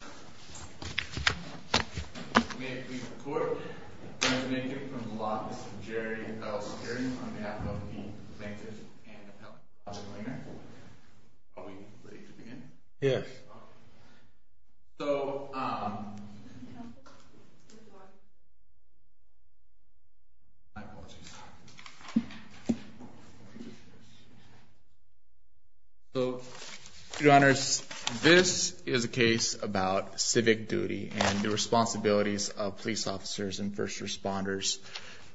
May it please the Court, the President here from the Law Office, Jerry L. Sturdy, on behalf of the plaintiffs and the public. Are we ready to begin? Yes. So, Your Honors, this is a case about civic duty and the responsibilities of police officers and first responders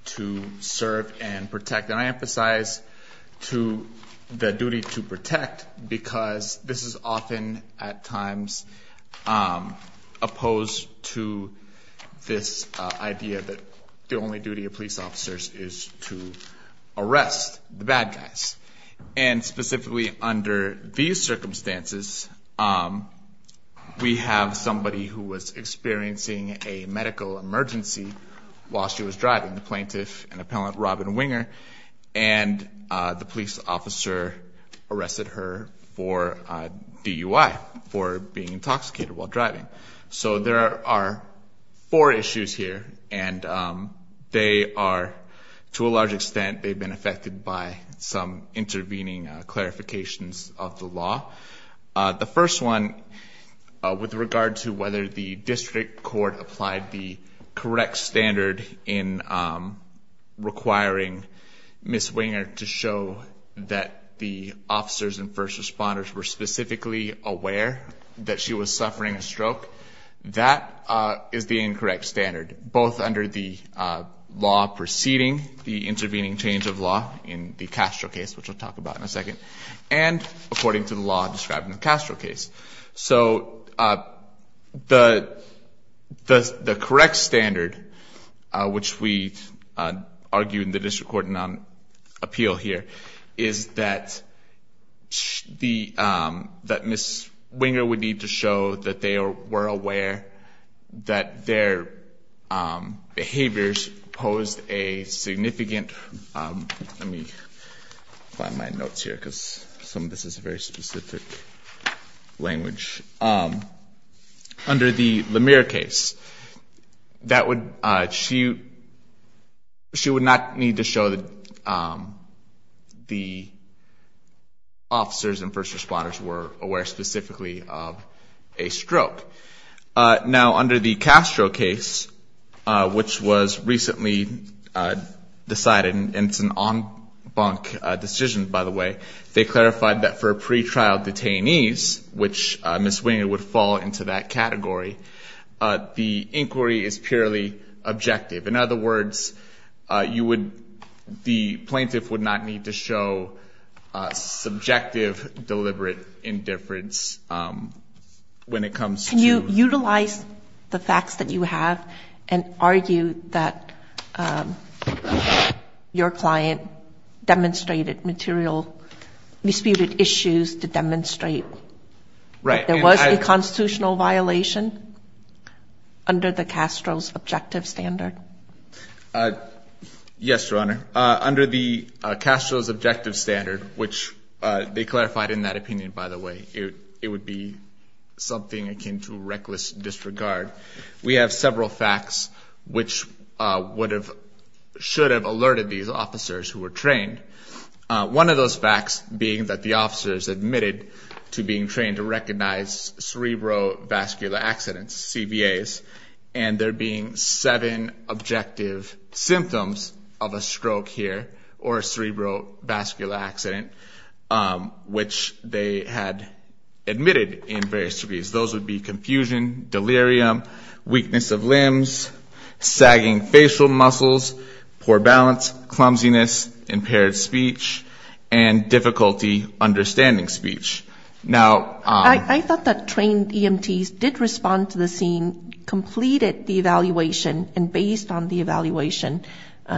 to serve and protect. And I emphasize to the duty to protect because this is often at times opposed to this idea that the only duty of police officers is to arrest the bad guys. And specifically under these circumstances, we have somebody who was experiencing a medical emergency while she was driving, the plaintiff and appellant Robin Winger. And the police officer arrested her for DUI, for being intoxicated while driving. So there are four issues here and they are, to a large extent, they've been affected by some intervening clarifications of the law. The first one, with regard to whether the district court applied the correct standard in requiring Ms. Winger to show that the officers and first responders were specifically aware that she was suffering a stroke. That is the incorrect standard, both under the law preceding the intervening change of law in the Castro case, which I'll talk about in a second, and according to the law describing the Castro case. So the correct standard, which we argue in the district court appeal here, is that Ms. Winger would need to show that they were aware that their behaviors posed a significant... Let me find my notes here because some of this is very specific language. Under the Lemire case, she would not need to show that the officers and first responders were aware specifically of a stroke. Now, under the Castro case, which was recently decided, and it's an en banc decision, by the way, they clarified that for pretrial detainees, which Ms. Winger would fall into that category, the inquiry is purely objective. In other words, the plaintiff would not need to show subjective, deliberate indifference when it comes to... And argue that your client demonstrated material, disputed issues to demonstrate that there was a constitutional violation under the Castro's objective standard. Yes, Your Honor. Under the Castro's objective standard, which they clarified in that opinion, by the way, it would be something akin to reckless disregard. We have several facts which should have alerted these officers who were trained. One of those facts being that the officers admitted to being trained to recognize cerebrovascular accidents, CVAs, and there being seven objective symptoms of a stroke here, or a cerebrovascular accident, which they had admitted in various degrees. Those would be confusion, delirium, weakness of limbs, sagging facial muscles, poor balance, clumsiness, impaired speech, and difficulty understanding speech. Now... I thought that trained EMTs did respond to the scene, completed the evaluation, and based on the evaluation,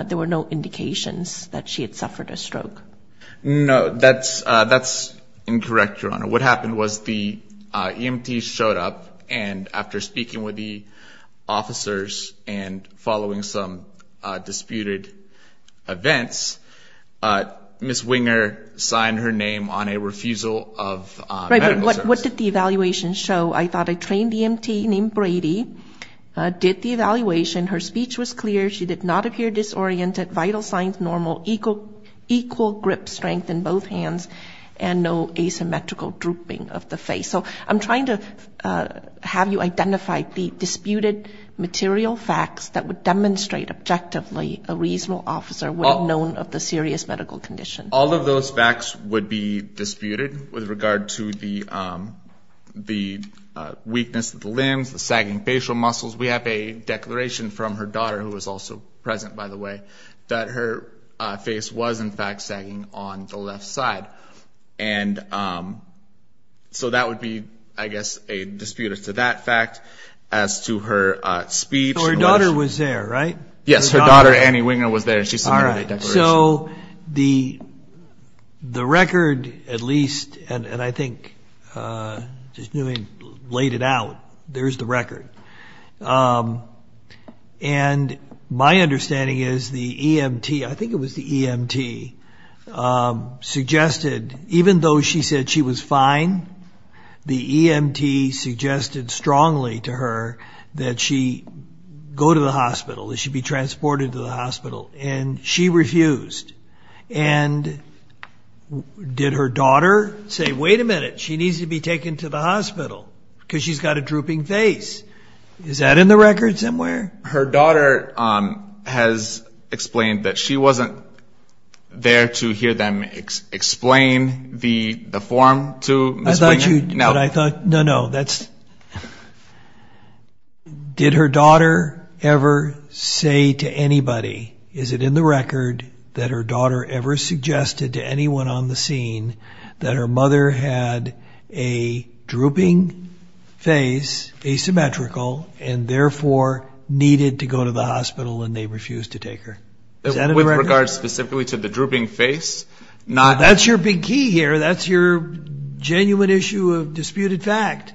there were no indications that she had suffered a stroke. No, that's incorrect, Your Honor. What happened was the EMT showed up, and after speaking with the officers and following some disputed events, Ms. Winger signed her name on a refusal of medical services. Right, but what did the evaluation show? I thought a trained EMT named Brady did the evaluation. Her speech was clear. She did not appear disoriented, vital signs normal, equal grip strength in both hands, and no asymmetrical drooping of the face. So I'm trying to have you identify the disputed material facts that would demonstrate objectively a reasonable officer would have known of the serious medical condition. All of those facts would be disputed with regard to the weakness of the limbs, the sagging facial muscles. We have a declaration from her daughter, who was also present, by the way, that her face was, in fact, sagging on the left side. And so that would be, I guess, a dispute as to that fact, as to her speech. So her daughter was there, right? Yes, her daughter, Annie Winger, was there. She submitted a declaration. So the record, at least, and I think just laying it out, there's the record. And my understanding is the EMT, I think it was the EMT, suggested, even though she said she was fine, the EMT suggested strongly to her that she go to the hospital, that she be transported to the hospital. And she refused. And did her daughter say, wait a minute, she needs to be taken to the hospital because she's got a drooping face? Is that in the record somewhere? Her daughter has explained that she wasn't there to hear them explain the form to Ms. Winger. No, no. Did her daughter ever say to anybody, is it in the record, that her daughter ever suggested to anyone on the scene that her mother had a drooping face, asymmetrical, and therefore needed to go to the hospital and they refused to take her? Is that in the record? With regards specifically to the drooping face, not... Well, that's your big key here. That's your genuine issue of disputed fact.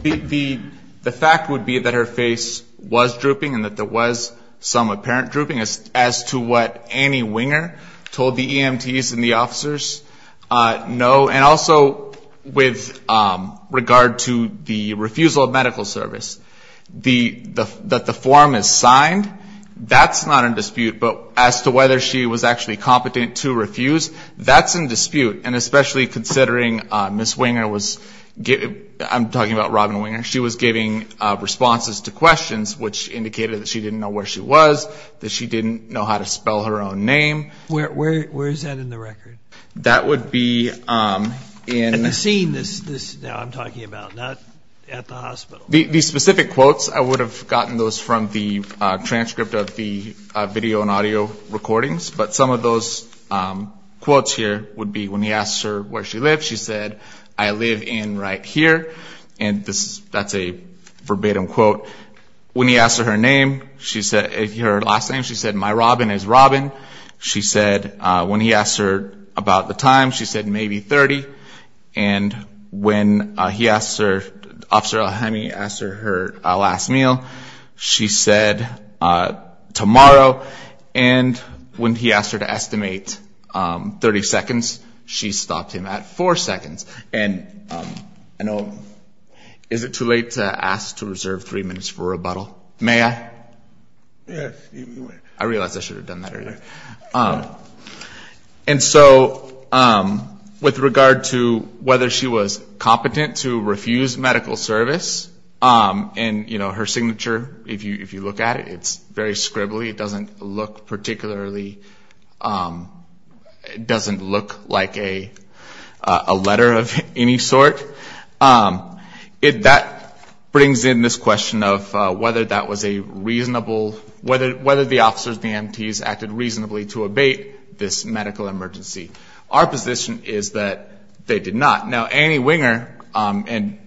The fact would be that her face was drooping and that there was some apparent drooping. As to what Annie Winger told the EMTs and the officers, no. And also with regard to the refusal of medical service, that the form is signed, that's not in dispute. But as to whether she was actually competent to refuse, that's in dispute. And especially considering Ms. Winger was giving, I'm talking about Robin Winger, she was giving responses to questions which indicated that she didn't know where she was, that she didn't know how to spell her own name. Where is that in the record? That would be in... At the scene that I'm talking about, not at the hospital. The specific quotes, I would have gotten those from the transcript of the video and audio recordings. But some of those quotes here would be when he asked her where she lived, she said, I live in right here. And that's a verbatim quote. When he asked her her name, her last name, she said, my Robin is Robin. She said, when he asked her about the time, she said, maybe 30. And when he asked her, Officer Alhemi asked her her last meal, she said, tomorrow. And when he asked her to estimate 30 seconds, she stopped him at four seconds. And I know, is it too late to ask to reserve three minutes for rebuttal? May I? Yes. I realize I should have done that earlier. And so, with regard to whether she was competent to refuse medical service, and her signature, if you look at it, it's very scribbly. It doesn't look particularly... It doesn't look like a letter of any sort. That brings in this question of whether that was a reasonable... to abate this medical emergency. Our position is that they did not. Now, Annie Winger, and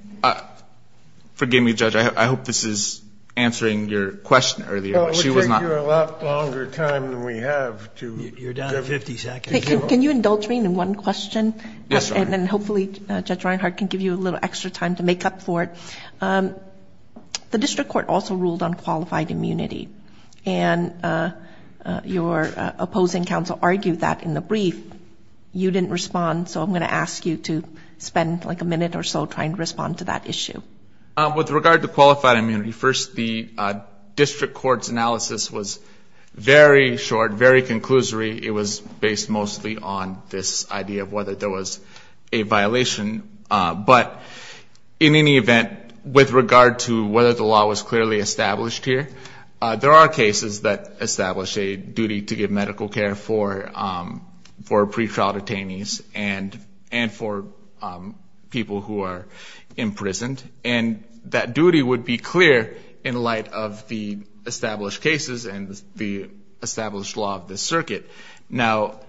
forgive me, Judge, I hope this is answering your question earlier, but she was not... Well, we'll give you a lot longer time than we have to... You're down to 50 seconds. Can you indulge me in one question? Yes, Your Honor. And then, hopefully, Judge Reinhart can give you a little extra time to make up for it. The district court also ruled on qualified immunity. And your opposing counsel argued that in the brief. You didn't respond, so I'm going to ask you to spend like a minute or so trying to respond to that issue. With regard to qualified immunity, first, the district court's analysis was very short, very conclusory. It was based mostly on this idea of whether there was a violation. But, in any event, with regard to whether the law was clearly established here, there are cases that establish a duty to give medical care for pretrial detainees and for people who are imprisoned. And that duty would be clear in light of the established cases and the established law of this circuit. Now,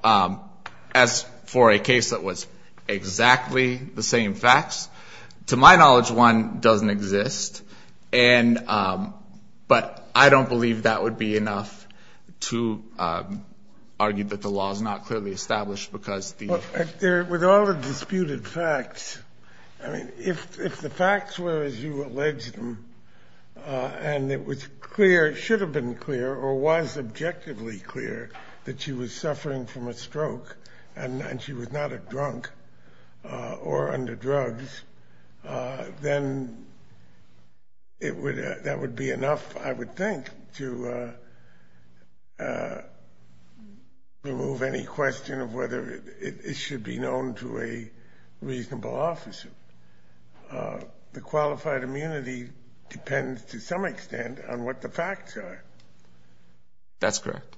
as for a case that was exactly the same facts, to my knowledge, one doesn't exist. But I don't believe that would be enough to argue that the law is not clearly established. With all the disputed facts, I mean, if the facts were as you alleged them, and it was clear, it should have been clear, or was objectively clear, that she was suffering from a stroke and she was not a drunk or under drugs, then that would be enough, I would think, to remove any question of whether it should be known to a reasonable officer. The qualified immunity depends, to some extent, on what the facts are. That's correct.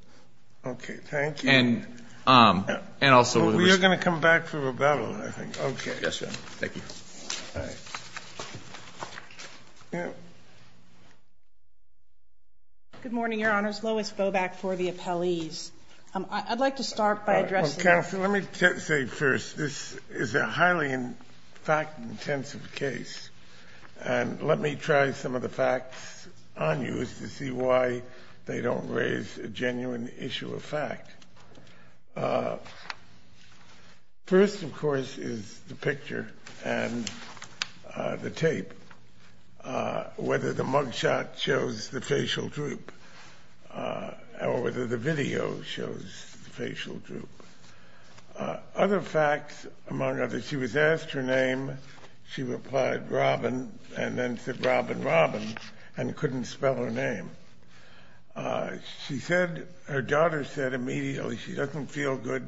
Okay, thank you. And also... We are going to come back to rebuttal, I think. Okay. Yes, Your Honor. Thank you. Good morning, Your Honors. Lois Boback for the appellees. I'd like to start by addressing... Counsel, let me say first, this is a highly fact-intensive case. And let me try some of the facts on you as to see why they don't raise a genuine issue of fact. First, of course, is the picture and the tape, whether the mugshot shows the facial droop, or whether the video shows the facial droop. Other facts, among others, she was asked her name, she replied Robin, and then said Robin, Robin, and couldn't spell her name. She said, her daughter said immediately, she doesn't feel good,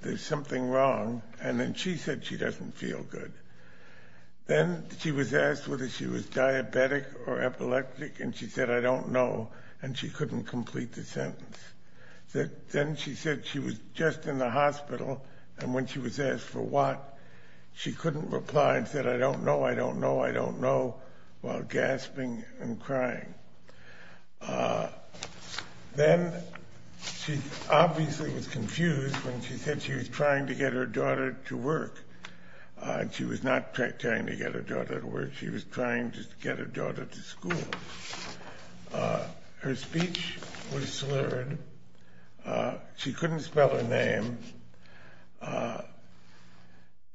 there's something wrong, and then she said she doesn't feel good. Then she was asked whether she was diabetic or epileptic, and she said, I don't know, and she couldn't complete the sentence. Then she said she was just in the hospital, and when she was asked for what, she couldn't reply and said, I don't know, I don't know, I don't know, while gasping and crying. Then she obviously was confused when she said she was trying to get her daughter to work, and she was not trying to get her daughter to work, she was trying to get her daughter to school. Her speech was slurred, she couldn't spell her name.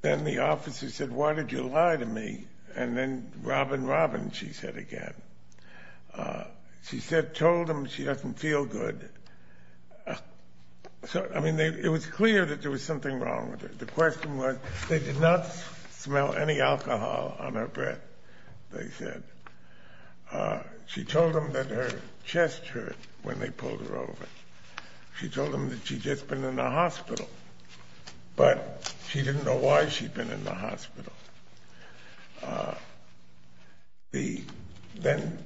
Then the officer said, why did you lie to me? And then, Robin, Robin, she said again. She said, told them she doesn't feel good. I mean, it was clear that there was something wrong with her. The question was, they did not smell any alcohol on her breath, they said. She told them that her chest hurt when they pulled her over. She told them that she'd just been in the hospital, but she didn't know why she'd been in the hospital. Then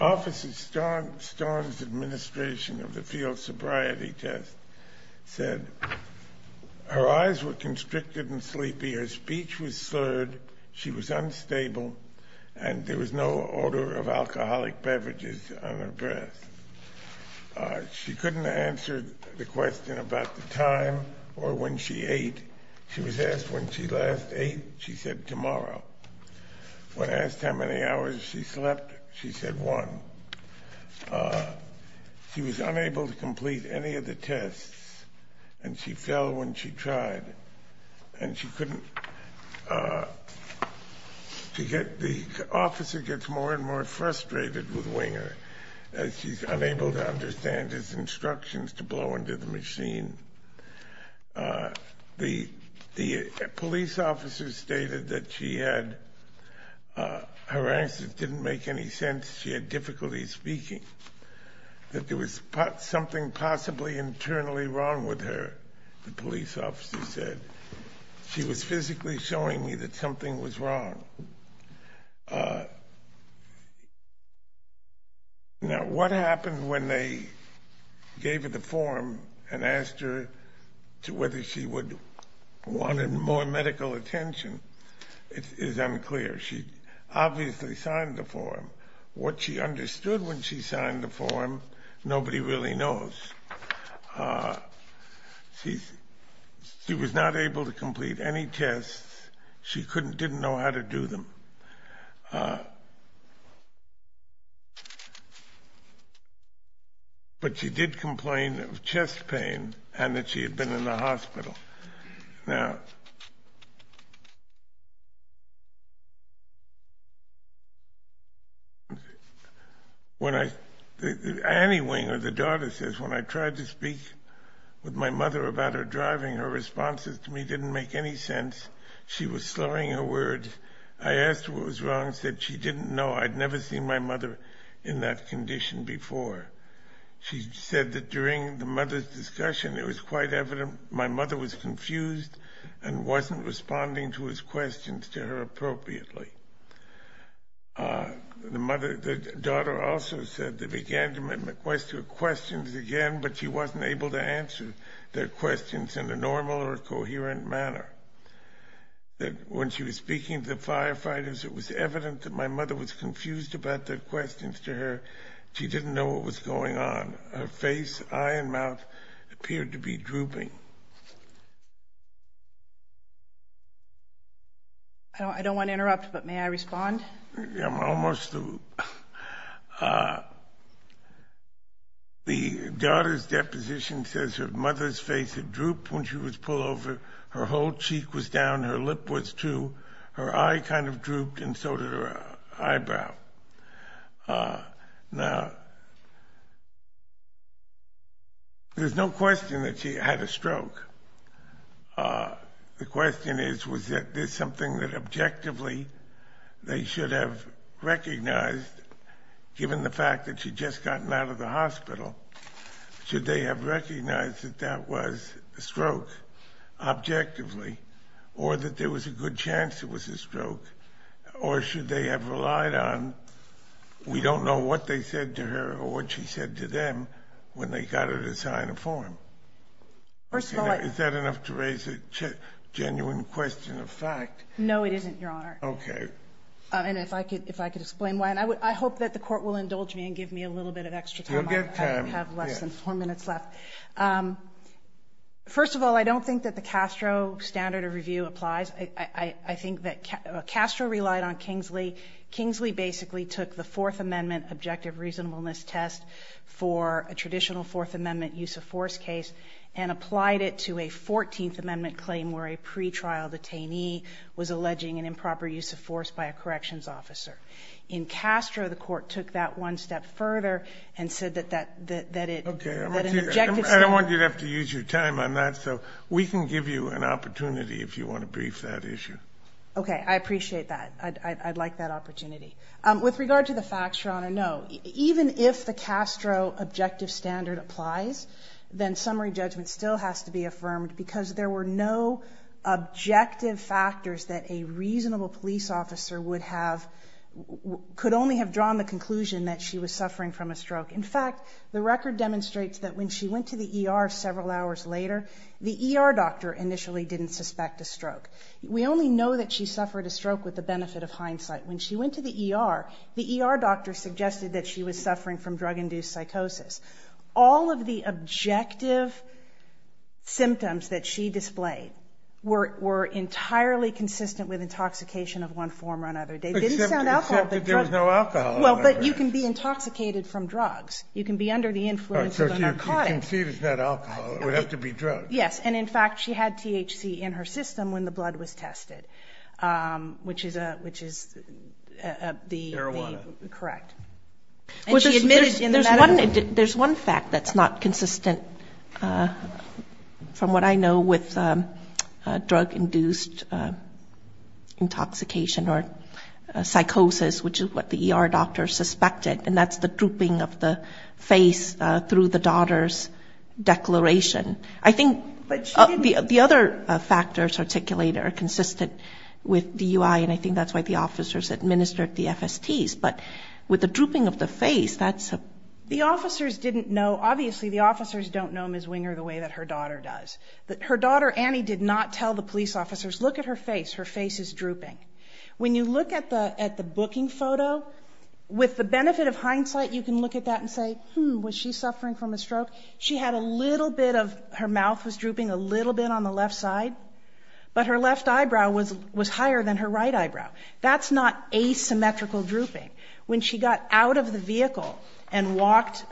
Officer Starnes, Administration of the Field Sobriety Test, said her eyes were constricted and sleepy, her speech was slurred, she was unstable, and there was no odor of alcoholic beverages on her breath. She couldn't answer the question about the time or when she ate. She was asked when she last ate, she said tomorrow. When asked how many hours she slept, she said one. She was unable to complete any of the tests, and she fell when she tried, and she couldn't... The officer gets more and more frustrated with Winger, as she's unable to understand his instructions to blow into the machine. The police officer stated that she had... her answers didn't make any sense, she had difficulty speaking. That there was something possibly internally wrong with her, the police officer said. She was physically showing me that something was wrong. Now, what happened when they gave her the form and asked her whether she wanted more medical attention is unclear. She obviously signed the form. What she understood when she signed the form, nobody really knows. She was not able to complete any tests, she didn't know how to do them. But she did complain of chest pain, and that she had been in the hospital. Annie Winger, the daughter, says, when I tried to speak with my mother about her driving, her responses to me didn't make any sense. She was slurring her words. I asked her what was wrong, she said she didn't know. I'd never seen my mother in that condition before. She said that during the mother's discussion, it was quite evident my mother was confused and wasn't responding to his questions to her appropriately. The daughter also said they began to make requests for questions again, but she wasn't able to answer their questions in a normal or coherent manner. When she was speaking to the firefighters, it was evident that my mother was confused about their questions to her. She didn't know what was going on. Her face, eye, and mouth appeared to be drooping. I don't want to interrupt, but may I respond? The daughter's deposition says her mother's face had drooped when she was pulled over. Her whole cheek was down, her lip was, too. Her eye kind of drooped, and so did her eyebrow. There's no question that she had a stroke. The question is, was it something that objectively they should have recognized, given the fact that she'd just gotten out of the hospital? Should they have recognized that that was a stroke, objectively, or that there was a good chance it was a stroke, or should they have relied on, we don't know what they said to her or what she said to them when they got her to sign a form? First of all, I... Is that enough to raise a genuine question of fact? No, it isn't, Your Honor. Okay. And if I could explain why, and I hope that the court will indulge me and give me a little bit of extra time. You'll get time. I have less than four minutes left. First of all, I don't think that the Castro standard of review applies. I think that Castro relied on Kingsley. Kingsley basically took the Fourth Amendment objective reasonableness test for a traditional Fourth Amendment use of force case and applied it to a 14th Amendment claim where a pretrial detainee was alleging an improper use of force by a corrections officer. In Castro, the court took that one step further and said that an objective standard... Okay. I don't want you to have to use your time on that, so we can give you an opportunity if you want to brief that issue. Okay. I appreciate that. I'd like that opportunity. With regard to the facts, Your Honor, no. Even if the Castro objective standard applies, then summary judgment still has to be affirmed because there were no objective factors that a reasonable police officer would have... In fact, the record demonstrates that when she went to the ER several hours later, the ER doctor initially didn't suspect a stroke. We only know that she suffered a stroke with the benefit of hindsight. When she went to the ER, the ER doctor suggested that she was suffering from drug-induced psychosis. All of the objective symptoms that she displayed were entirely consistent with intoxication of one form or another. They didn't sound alcoholic. Except that there was no alcohol. Well, but you can be intoxicated from drugs. You can be under the influence of a narcotic. So she conceded it's not alcohol. It would have to be drugs. Yes. And, in fact, she had THC in her system when the blood was tested, which is the... Arowana. Correct. And she admitted in the medical... There's one fact that's not consistent from what I know with drug-induced intoxication or psychosis, which is what the ER doctor suspected, and that's the drooping of the face through the daughter's declaration. I think the other factors articulated are consistent with DUI, and I think that's why the officers administered the FSTs. But with the drooping of the face, that's... The officers didn't know. Obviously, the officers don't know Ms. Winger the way that her daughter does. Her daughter, Annie, did not tell the police officers, look at her face. Her face is drooping. When you look at the booking photo, with the benefit of hindsight, you can look at that and say, hmm, was she suffering from a stroke? She had a little bit of... Her mouth was drooping a little bit on the left side, but her left eyebrow was higher than her right eyebrow. That's not asymmetrical drooping. When she got out of the vehicle and walked...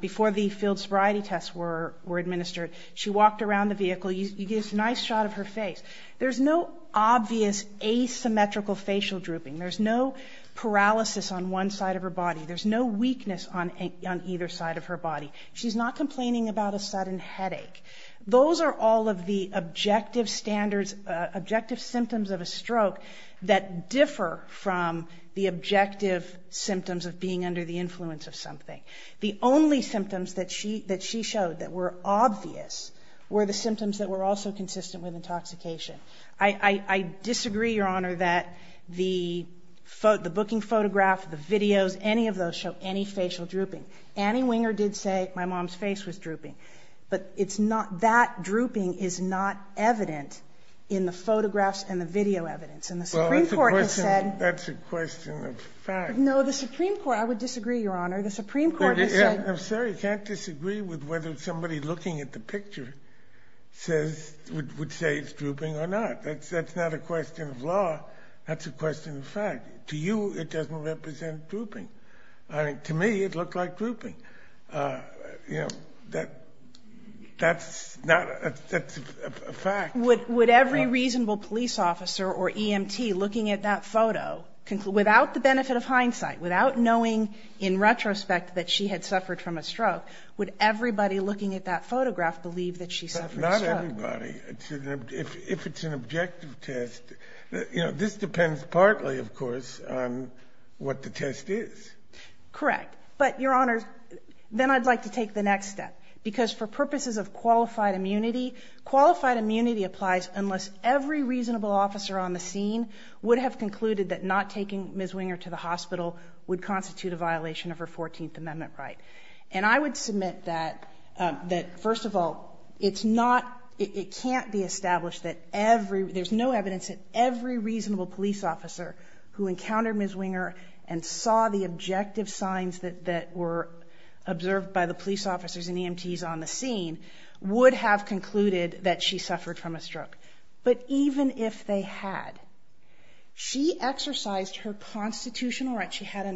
Before the field sobriety tests were administered, she walked around the vehicle. You get this nice shot of her face. There's no obvious asymmetrical facial drooping. There's no paralysis on one side of her body. There's no weakness on either side of her body. She's not complaining about a sudden headache. Those are all of the objective standards, objective symptoms of a stroke that differ from the objective symptoms of being under the influence of something. The only symptoms that she showed that were obvious were the symptoms that were also consistent with intoxication. I disagree, Your Honor, that the booking photograph, the videos, any of those show any facial drooping. Annie Winger did say my mom's face was drooping, but that drooping is not evident in the photographs and the video evidence. And the Supreme Court has said... Well, that's a question of fact. No, the Supreme Court... I would disagree, Your Honor. The Supreme Court has said... No, sir, you can't disagree with whether somebody looking at the picture would say it's drooping or not. That's not a question of law. That's a question of fact. To you, it doesn't represent drooping. To me, it looked like drooping. You know, that's a fact. Would every reasonable police officer or EMT looking at that photo, without the benefit of hindsight, without knowing in retrospect that she had suffered from a stroke, would everybody looking at that photograph believe that she suffered a stroke? Not everybody. If it's an objective test... You know, this depends partly, of course, on what the test is. Correct. But, Your Honor, then I'd like to take the next step. Because for purposes of qualified immunity, qualified immunity applies unless every reasonable officer on the scene would have concluded that not taking Ms. Winger to the hospital would constitute a violation of her 14th Amendment right. And I would submit that, first of all, it can't be established that every... There's no evidence that every reasonable police officer who encountered Ms. Winger and saw the objective signs that were observed by the police officers would have concluded that she suffered from a stroke. But even if they had, she exercised her constitutional right. She had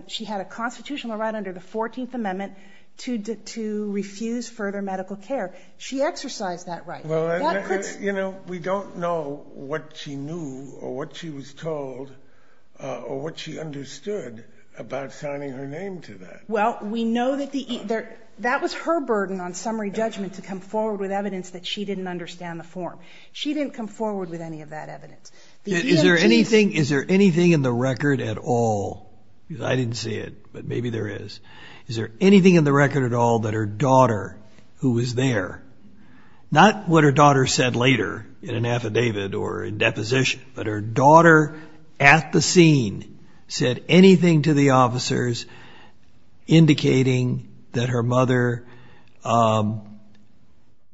a constitutional right under the 14th Amendment to refuse further medical care. She exercised that right. That could... You know, we don't know what she knew or what she was told or what she understood about signing her name to that. Well, we know that the... That was her burden on summary judgment to come forward with evidence that she didn't understand the form. She didn't come forward with any of that evidence. Is there anything in the record at all? Because I didn't see it, but maybe there is. Is there anything in the record at all that her daughter, who was there, not what her daughter said later in an affidavit or in deposition, indicating that her mother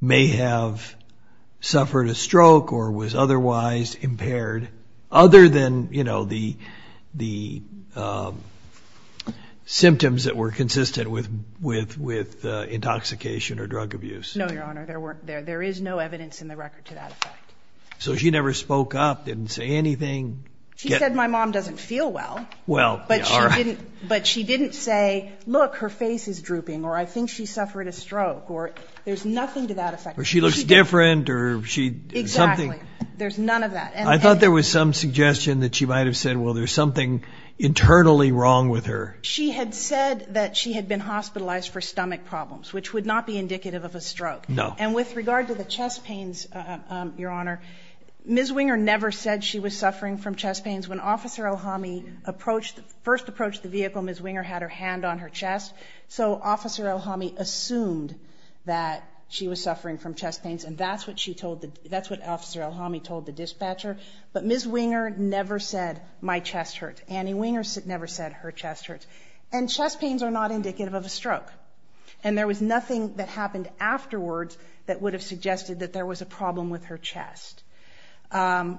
may have suffered a stroke or was otherwise impaired, other than, you know, the symptoms that were consistent with intoxication or drug abuse? No, Your Honor, there is no evidence in the record to that effect. So she never spoke up, didn't say anything? She said, my mom doesn't feel well. Well, all right. But she didn't say, look, her face is drooping or I think she suffered a stroke or there's nothing to that effect. Or she looks different or she... Exactly. There's none of that. I thought there was some suggestion that she might have said, well, there's something internally wrong with her. She had said that she had been hospitalized for stomach problems, which would not be indicative of a stroke. No. And with regard to the chest pains, Your Honor, Ms. Winger never said she was suffering from chest pains when Officer Elhami first approached the vehicle, Ms. Winger had her hand on her chest. So Officer Elhami assumed that she was suffering from chest pains, and that's what she told the... That's what Officer Elhami told the dispatcher. But Ms. Winger never said, my chest hurts. Annie Winger never said, her chest hurts. And chest pains are not indicative of a stroke. And there was nothing that happened afterwards that would have suggested that there was a problem with her chest.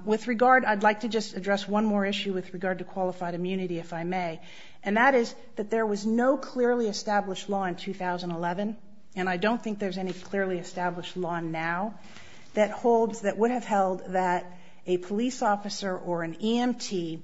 With regard, I'd like to just address one more issue with regard to qualified immunity, if I may, and that is that there was no clearly established law in 2011, and I don't think there's any clearly established law now, that would have held that a police officer or an EMT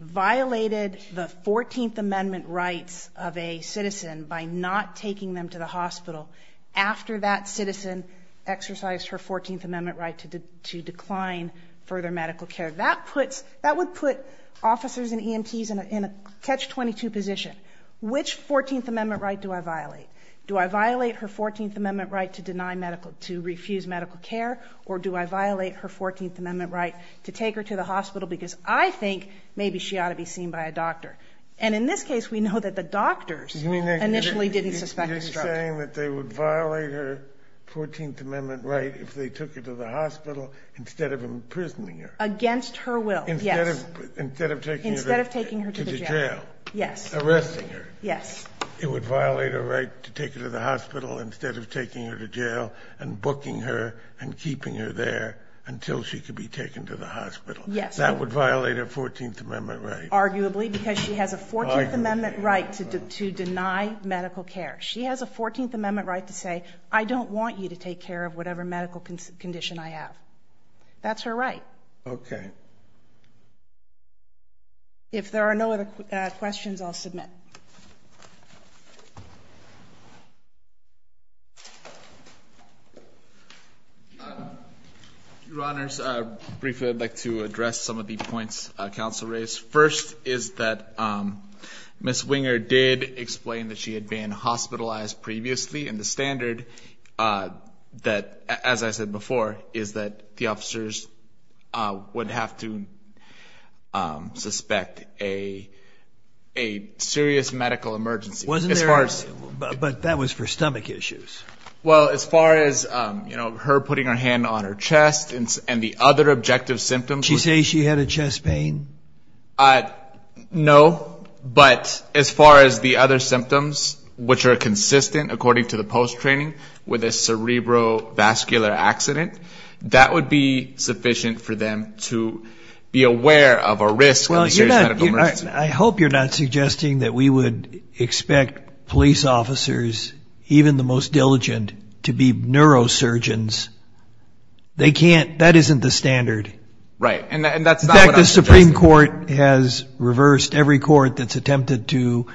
violated the 14th Amendment rights of a citizen by not taking them to the hospital after that citizen exercised her 14th Amendment right to decline further medical care. That would put officers and EMTs in a catch-22 position. Which 14th Amendment right do I violate? Do I violate her 14th Amendment right to refuse medical care, or do I violate her 14th Amendment right to take her to the hospital because I think maybe she ought to be seen by a doctor? And in this case, we know that the doctors initially didn't suspect a stroke. You're saying that they would violate her 14th Amendment right if they took her to the hospital instead of imprisoning her? Against her will, yes. Instead of taking her to the jail? Yes. Arresting her? Yes. It would violate her right to take her to the hospital instead of taking her to jail and booking her and keeping her there until she could be taken to the hospital? Yes. That would violate her 14th Amendment right? Arguably, because she has a 14th Amendment right to deny medical care. She has a 14th Amendment right to say, I don't want you to take care of whatever medical condition I have. That's her right. Okay. If there are no other questions, I'll submit. Your Honors, briefly I'd like to address some of the points counsel raised. First is that Ms. Winger did explain that she had been hospitalized previously and the standard, as I said before, is that the officers would have to suspect a serious medical emergency. But that was for stomach issues. Well, as far as her putting her hand on her chest and the other objective symptoms. Did she say she had a chest pain? No, but as far as the other symptoms, which are consistent according to the post-training with a cerebrovascular accident, that would be sufficient for them to be aware of a risk of a serious medical emergency. I hope you're not suggesting that we would expect police officers, even the most diligent, to be neurosurgeons. That isn't the standard. Right, and that's not what I'm suggesting. The Supreme Court has reversed every court that's attempted to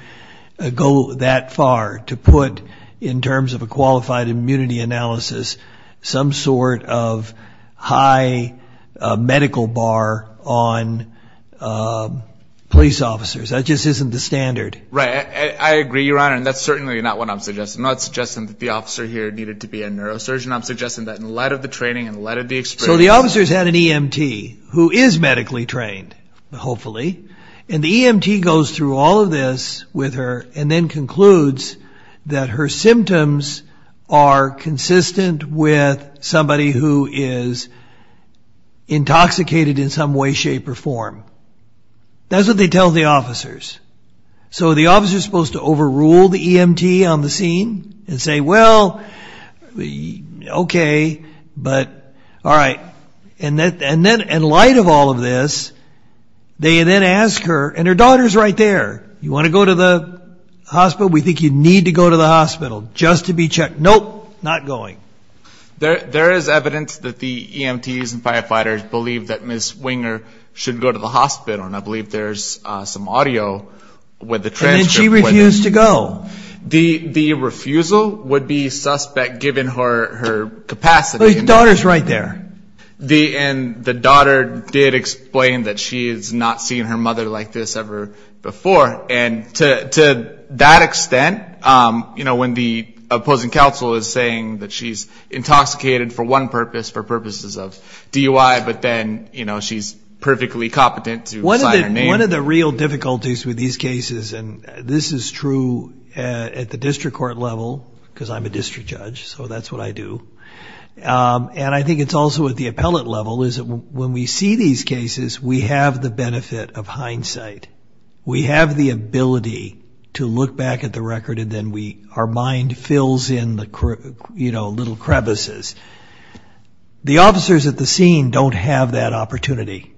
go that far to put, in terms of a qualified immunity analysis, some sort of high medical bar on police officers. That just isn't the standard. Right, I agree, Your Honor, and that's certainly not what I'm suggesting. I'm not suggesting that the officer here needed to be a neurosurgeon. I'm suggesting that in light of the training and in light of the experience. So the officer's had an EMT, who is medically trained, hopefully, and the EMT goes through all of this with her and then concludes that her symptoms are consistent with somebody who is intoxicated in some way, shape, or form. That's what they tell the officers. So the officer's supposed to overrule the EMT on the scene and say, well, okay, but all right. And in light of all of this, they then ask her, and her daughter's right there, you want to go to the hospital? We think you need to go to the hospital just to be checked. Nope, not going. There is evidence that the EMTs and firefighters believe that Ms. Winger should go to the hospital, and I believe there's some audio with the transcript. And then she refused to go. The refusal would be suspect given her capacity. The daughter's right there. And the daughter did explain that she has not seen her mother like this ever before. And to that extent, you know, when the opposing counsel is saying that she's intoxicated for one purpose, for purposes of DUI, but then, you know, she's perfectly competent to sign her name. One of the real difficulties with these cases, and this is true at the district court level, because I'm a district judge, so that's what I do, and I think it's also at the appellate level is that when we see these cases, we have the benefit of hindsight. We have the ability to look back at the record, and then our mind fills in the, you know, little crevices. The officers at the scene don't have that opportunity.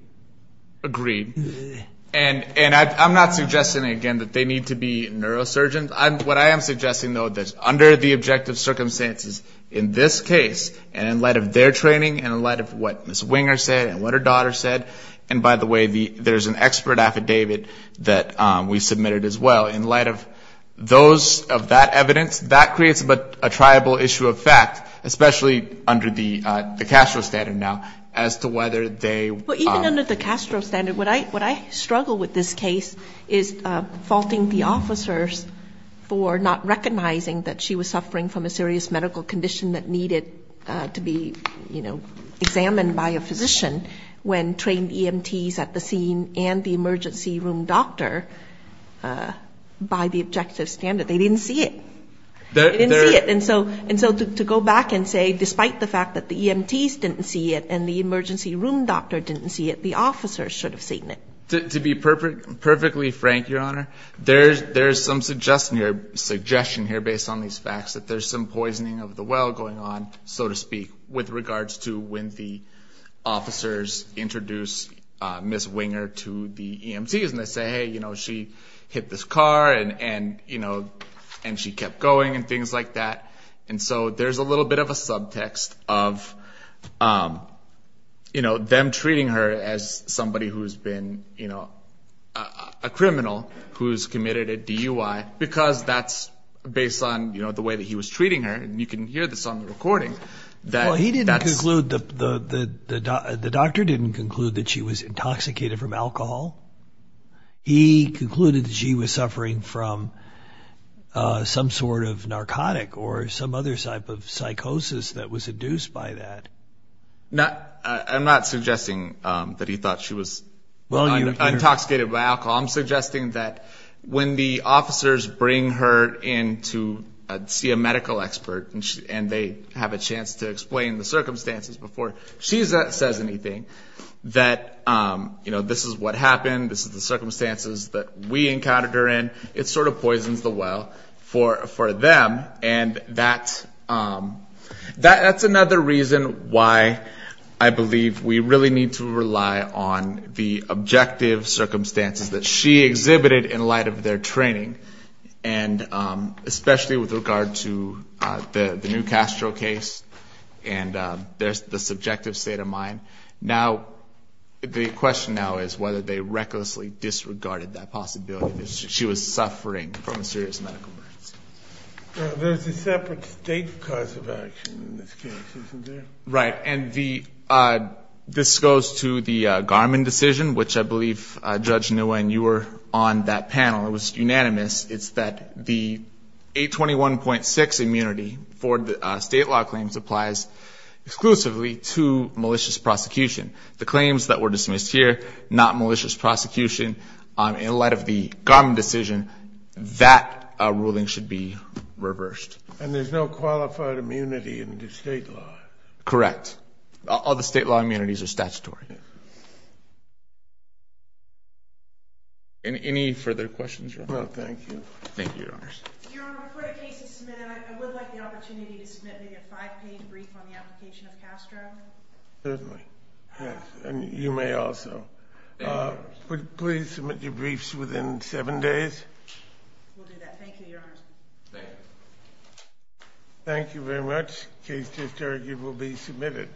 Agreed. And I'm not suggesting, again, that they need to be neurosurgeons. What I am suggesting, though, is that under the objective circumstances in this case, and in light of their training and in light of what Ms. Winger said and what her daughter said, and by the way, there's an expert affidavit that we submitted as well. In light of that evidence, that creates a triable issue of fact, especially under the Castro standard now as to whether they. Even under the Castro standard, what I struggle with this case is faulting the officers for not recognizing that she was suffering from a serious medical condition that needed to be, you know, examined by a physician when trained EMTs at the scene and the emergency room doctor by the objective standard. They didn't see it. They didn't see it. And so to go back and say despite the fact that the EMTs didn't see it and the emergency room doctor didn't see it, the officers should have seen it. To be perfectly frank, Your Honor, there's some suggestion here based on these facts that there's some poisoning of the well going on, so to speak, with regards to when the officers introduce Ms. Winger to the EMTs and they say, hey, you know, she hit this car and, you know, and she kept going and things like that. And so there's a little bit of a subtext of, you know, them treating her as somebody who's been, you know, a criminal who's committed a DUI because that's based on, you know, the way that he was treating her. And you can hear this on the recording. Well, he didn't conclude, the doctor didn't conclude that she was intoxicated from alcohol. He concluded that she was suffering from some sort of narcotic or some other type of psychosis that was induced by that. I'm not suggesting that he thought she was intoxicated by alcohol. I'm suggesting that when the officers bring her in to see a medical expert and they have a chance to explain the circumstances before she says anything, that, you know, this is what happened, this is the circumstances that we encountered her in. It sort of poisons the well for them. And that's another reason why I believe we really need to rely on the objective circumstances that she exhibited in light of their training, and especially with regard to the New Castro case and the subjective state of mind. Now, the question now is whether they recklessly disregarded that possibility that she was suffering from a serious medical emergency. There's a separate state cause of action in this case, isn't there? Right. And this goes to the Garman decision, which I believe, Judge Nguyen, you were on that panel. It was unanimous. It's that the 821.6 immunity for state law claims applies exclusively to malicious prosecution. The claims that were dismissed here, not malicious prosecution, in light of the Garman decision, that ruling should be reversed. And there's no qualified immunity under state law. Correct. All the state law immunities are statutory. Any further questions? No, thank you. Thank you, Your Honors. Your Honor, before the case is submitted, I would like the opportunity to submit maybe a five-page brief on the application of Castro. Certainly. Yes. And you may also. Thank you, Your Honors. Would you please submit your briefs within seven days? We'll do that. Thank you, Your Honors. Thank you. Thank you very much. The case is adjourned. It will be submitted.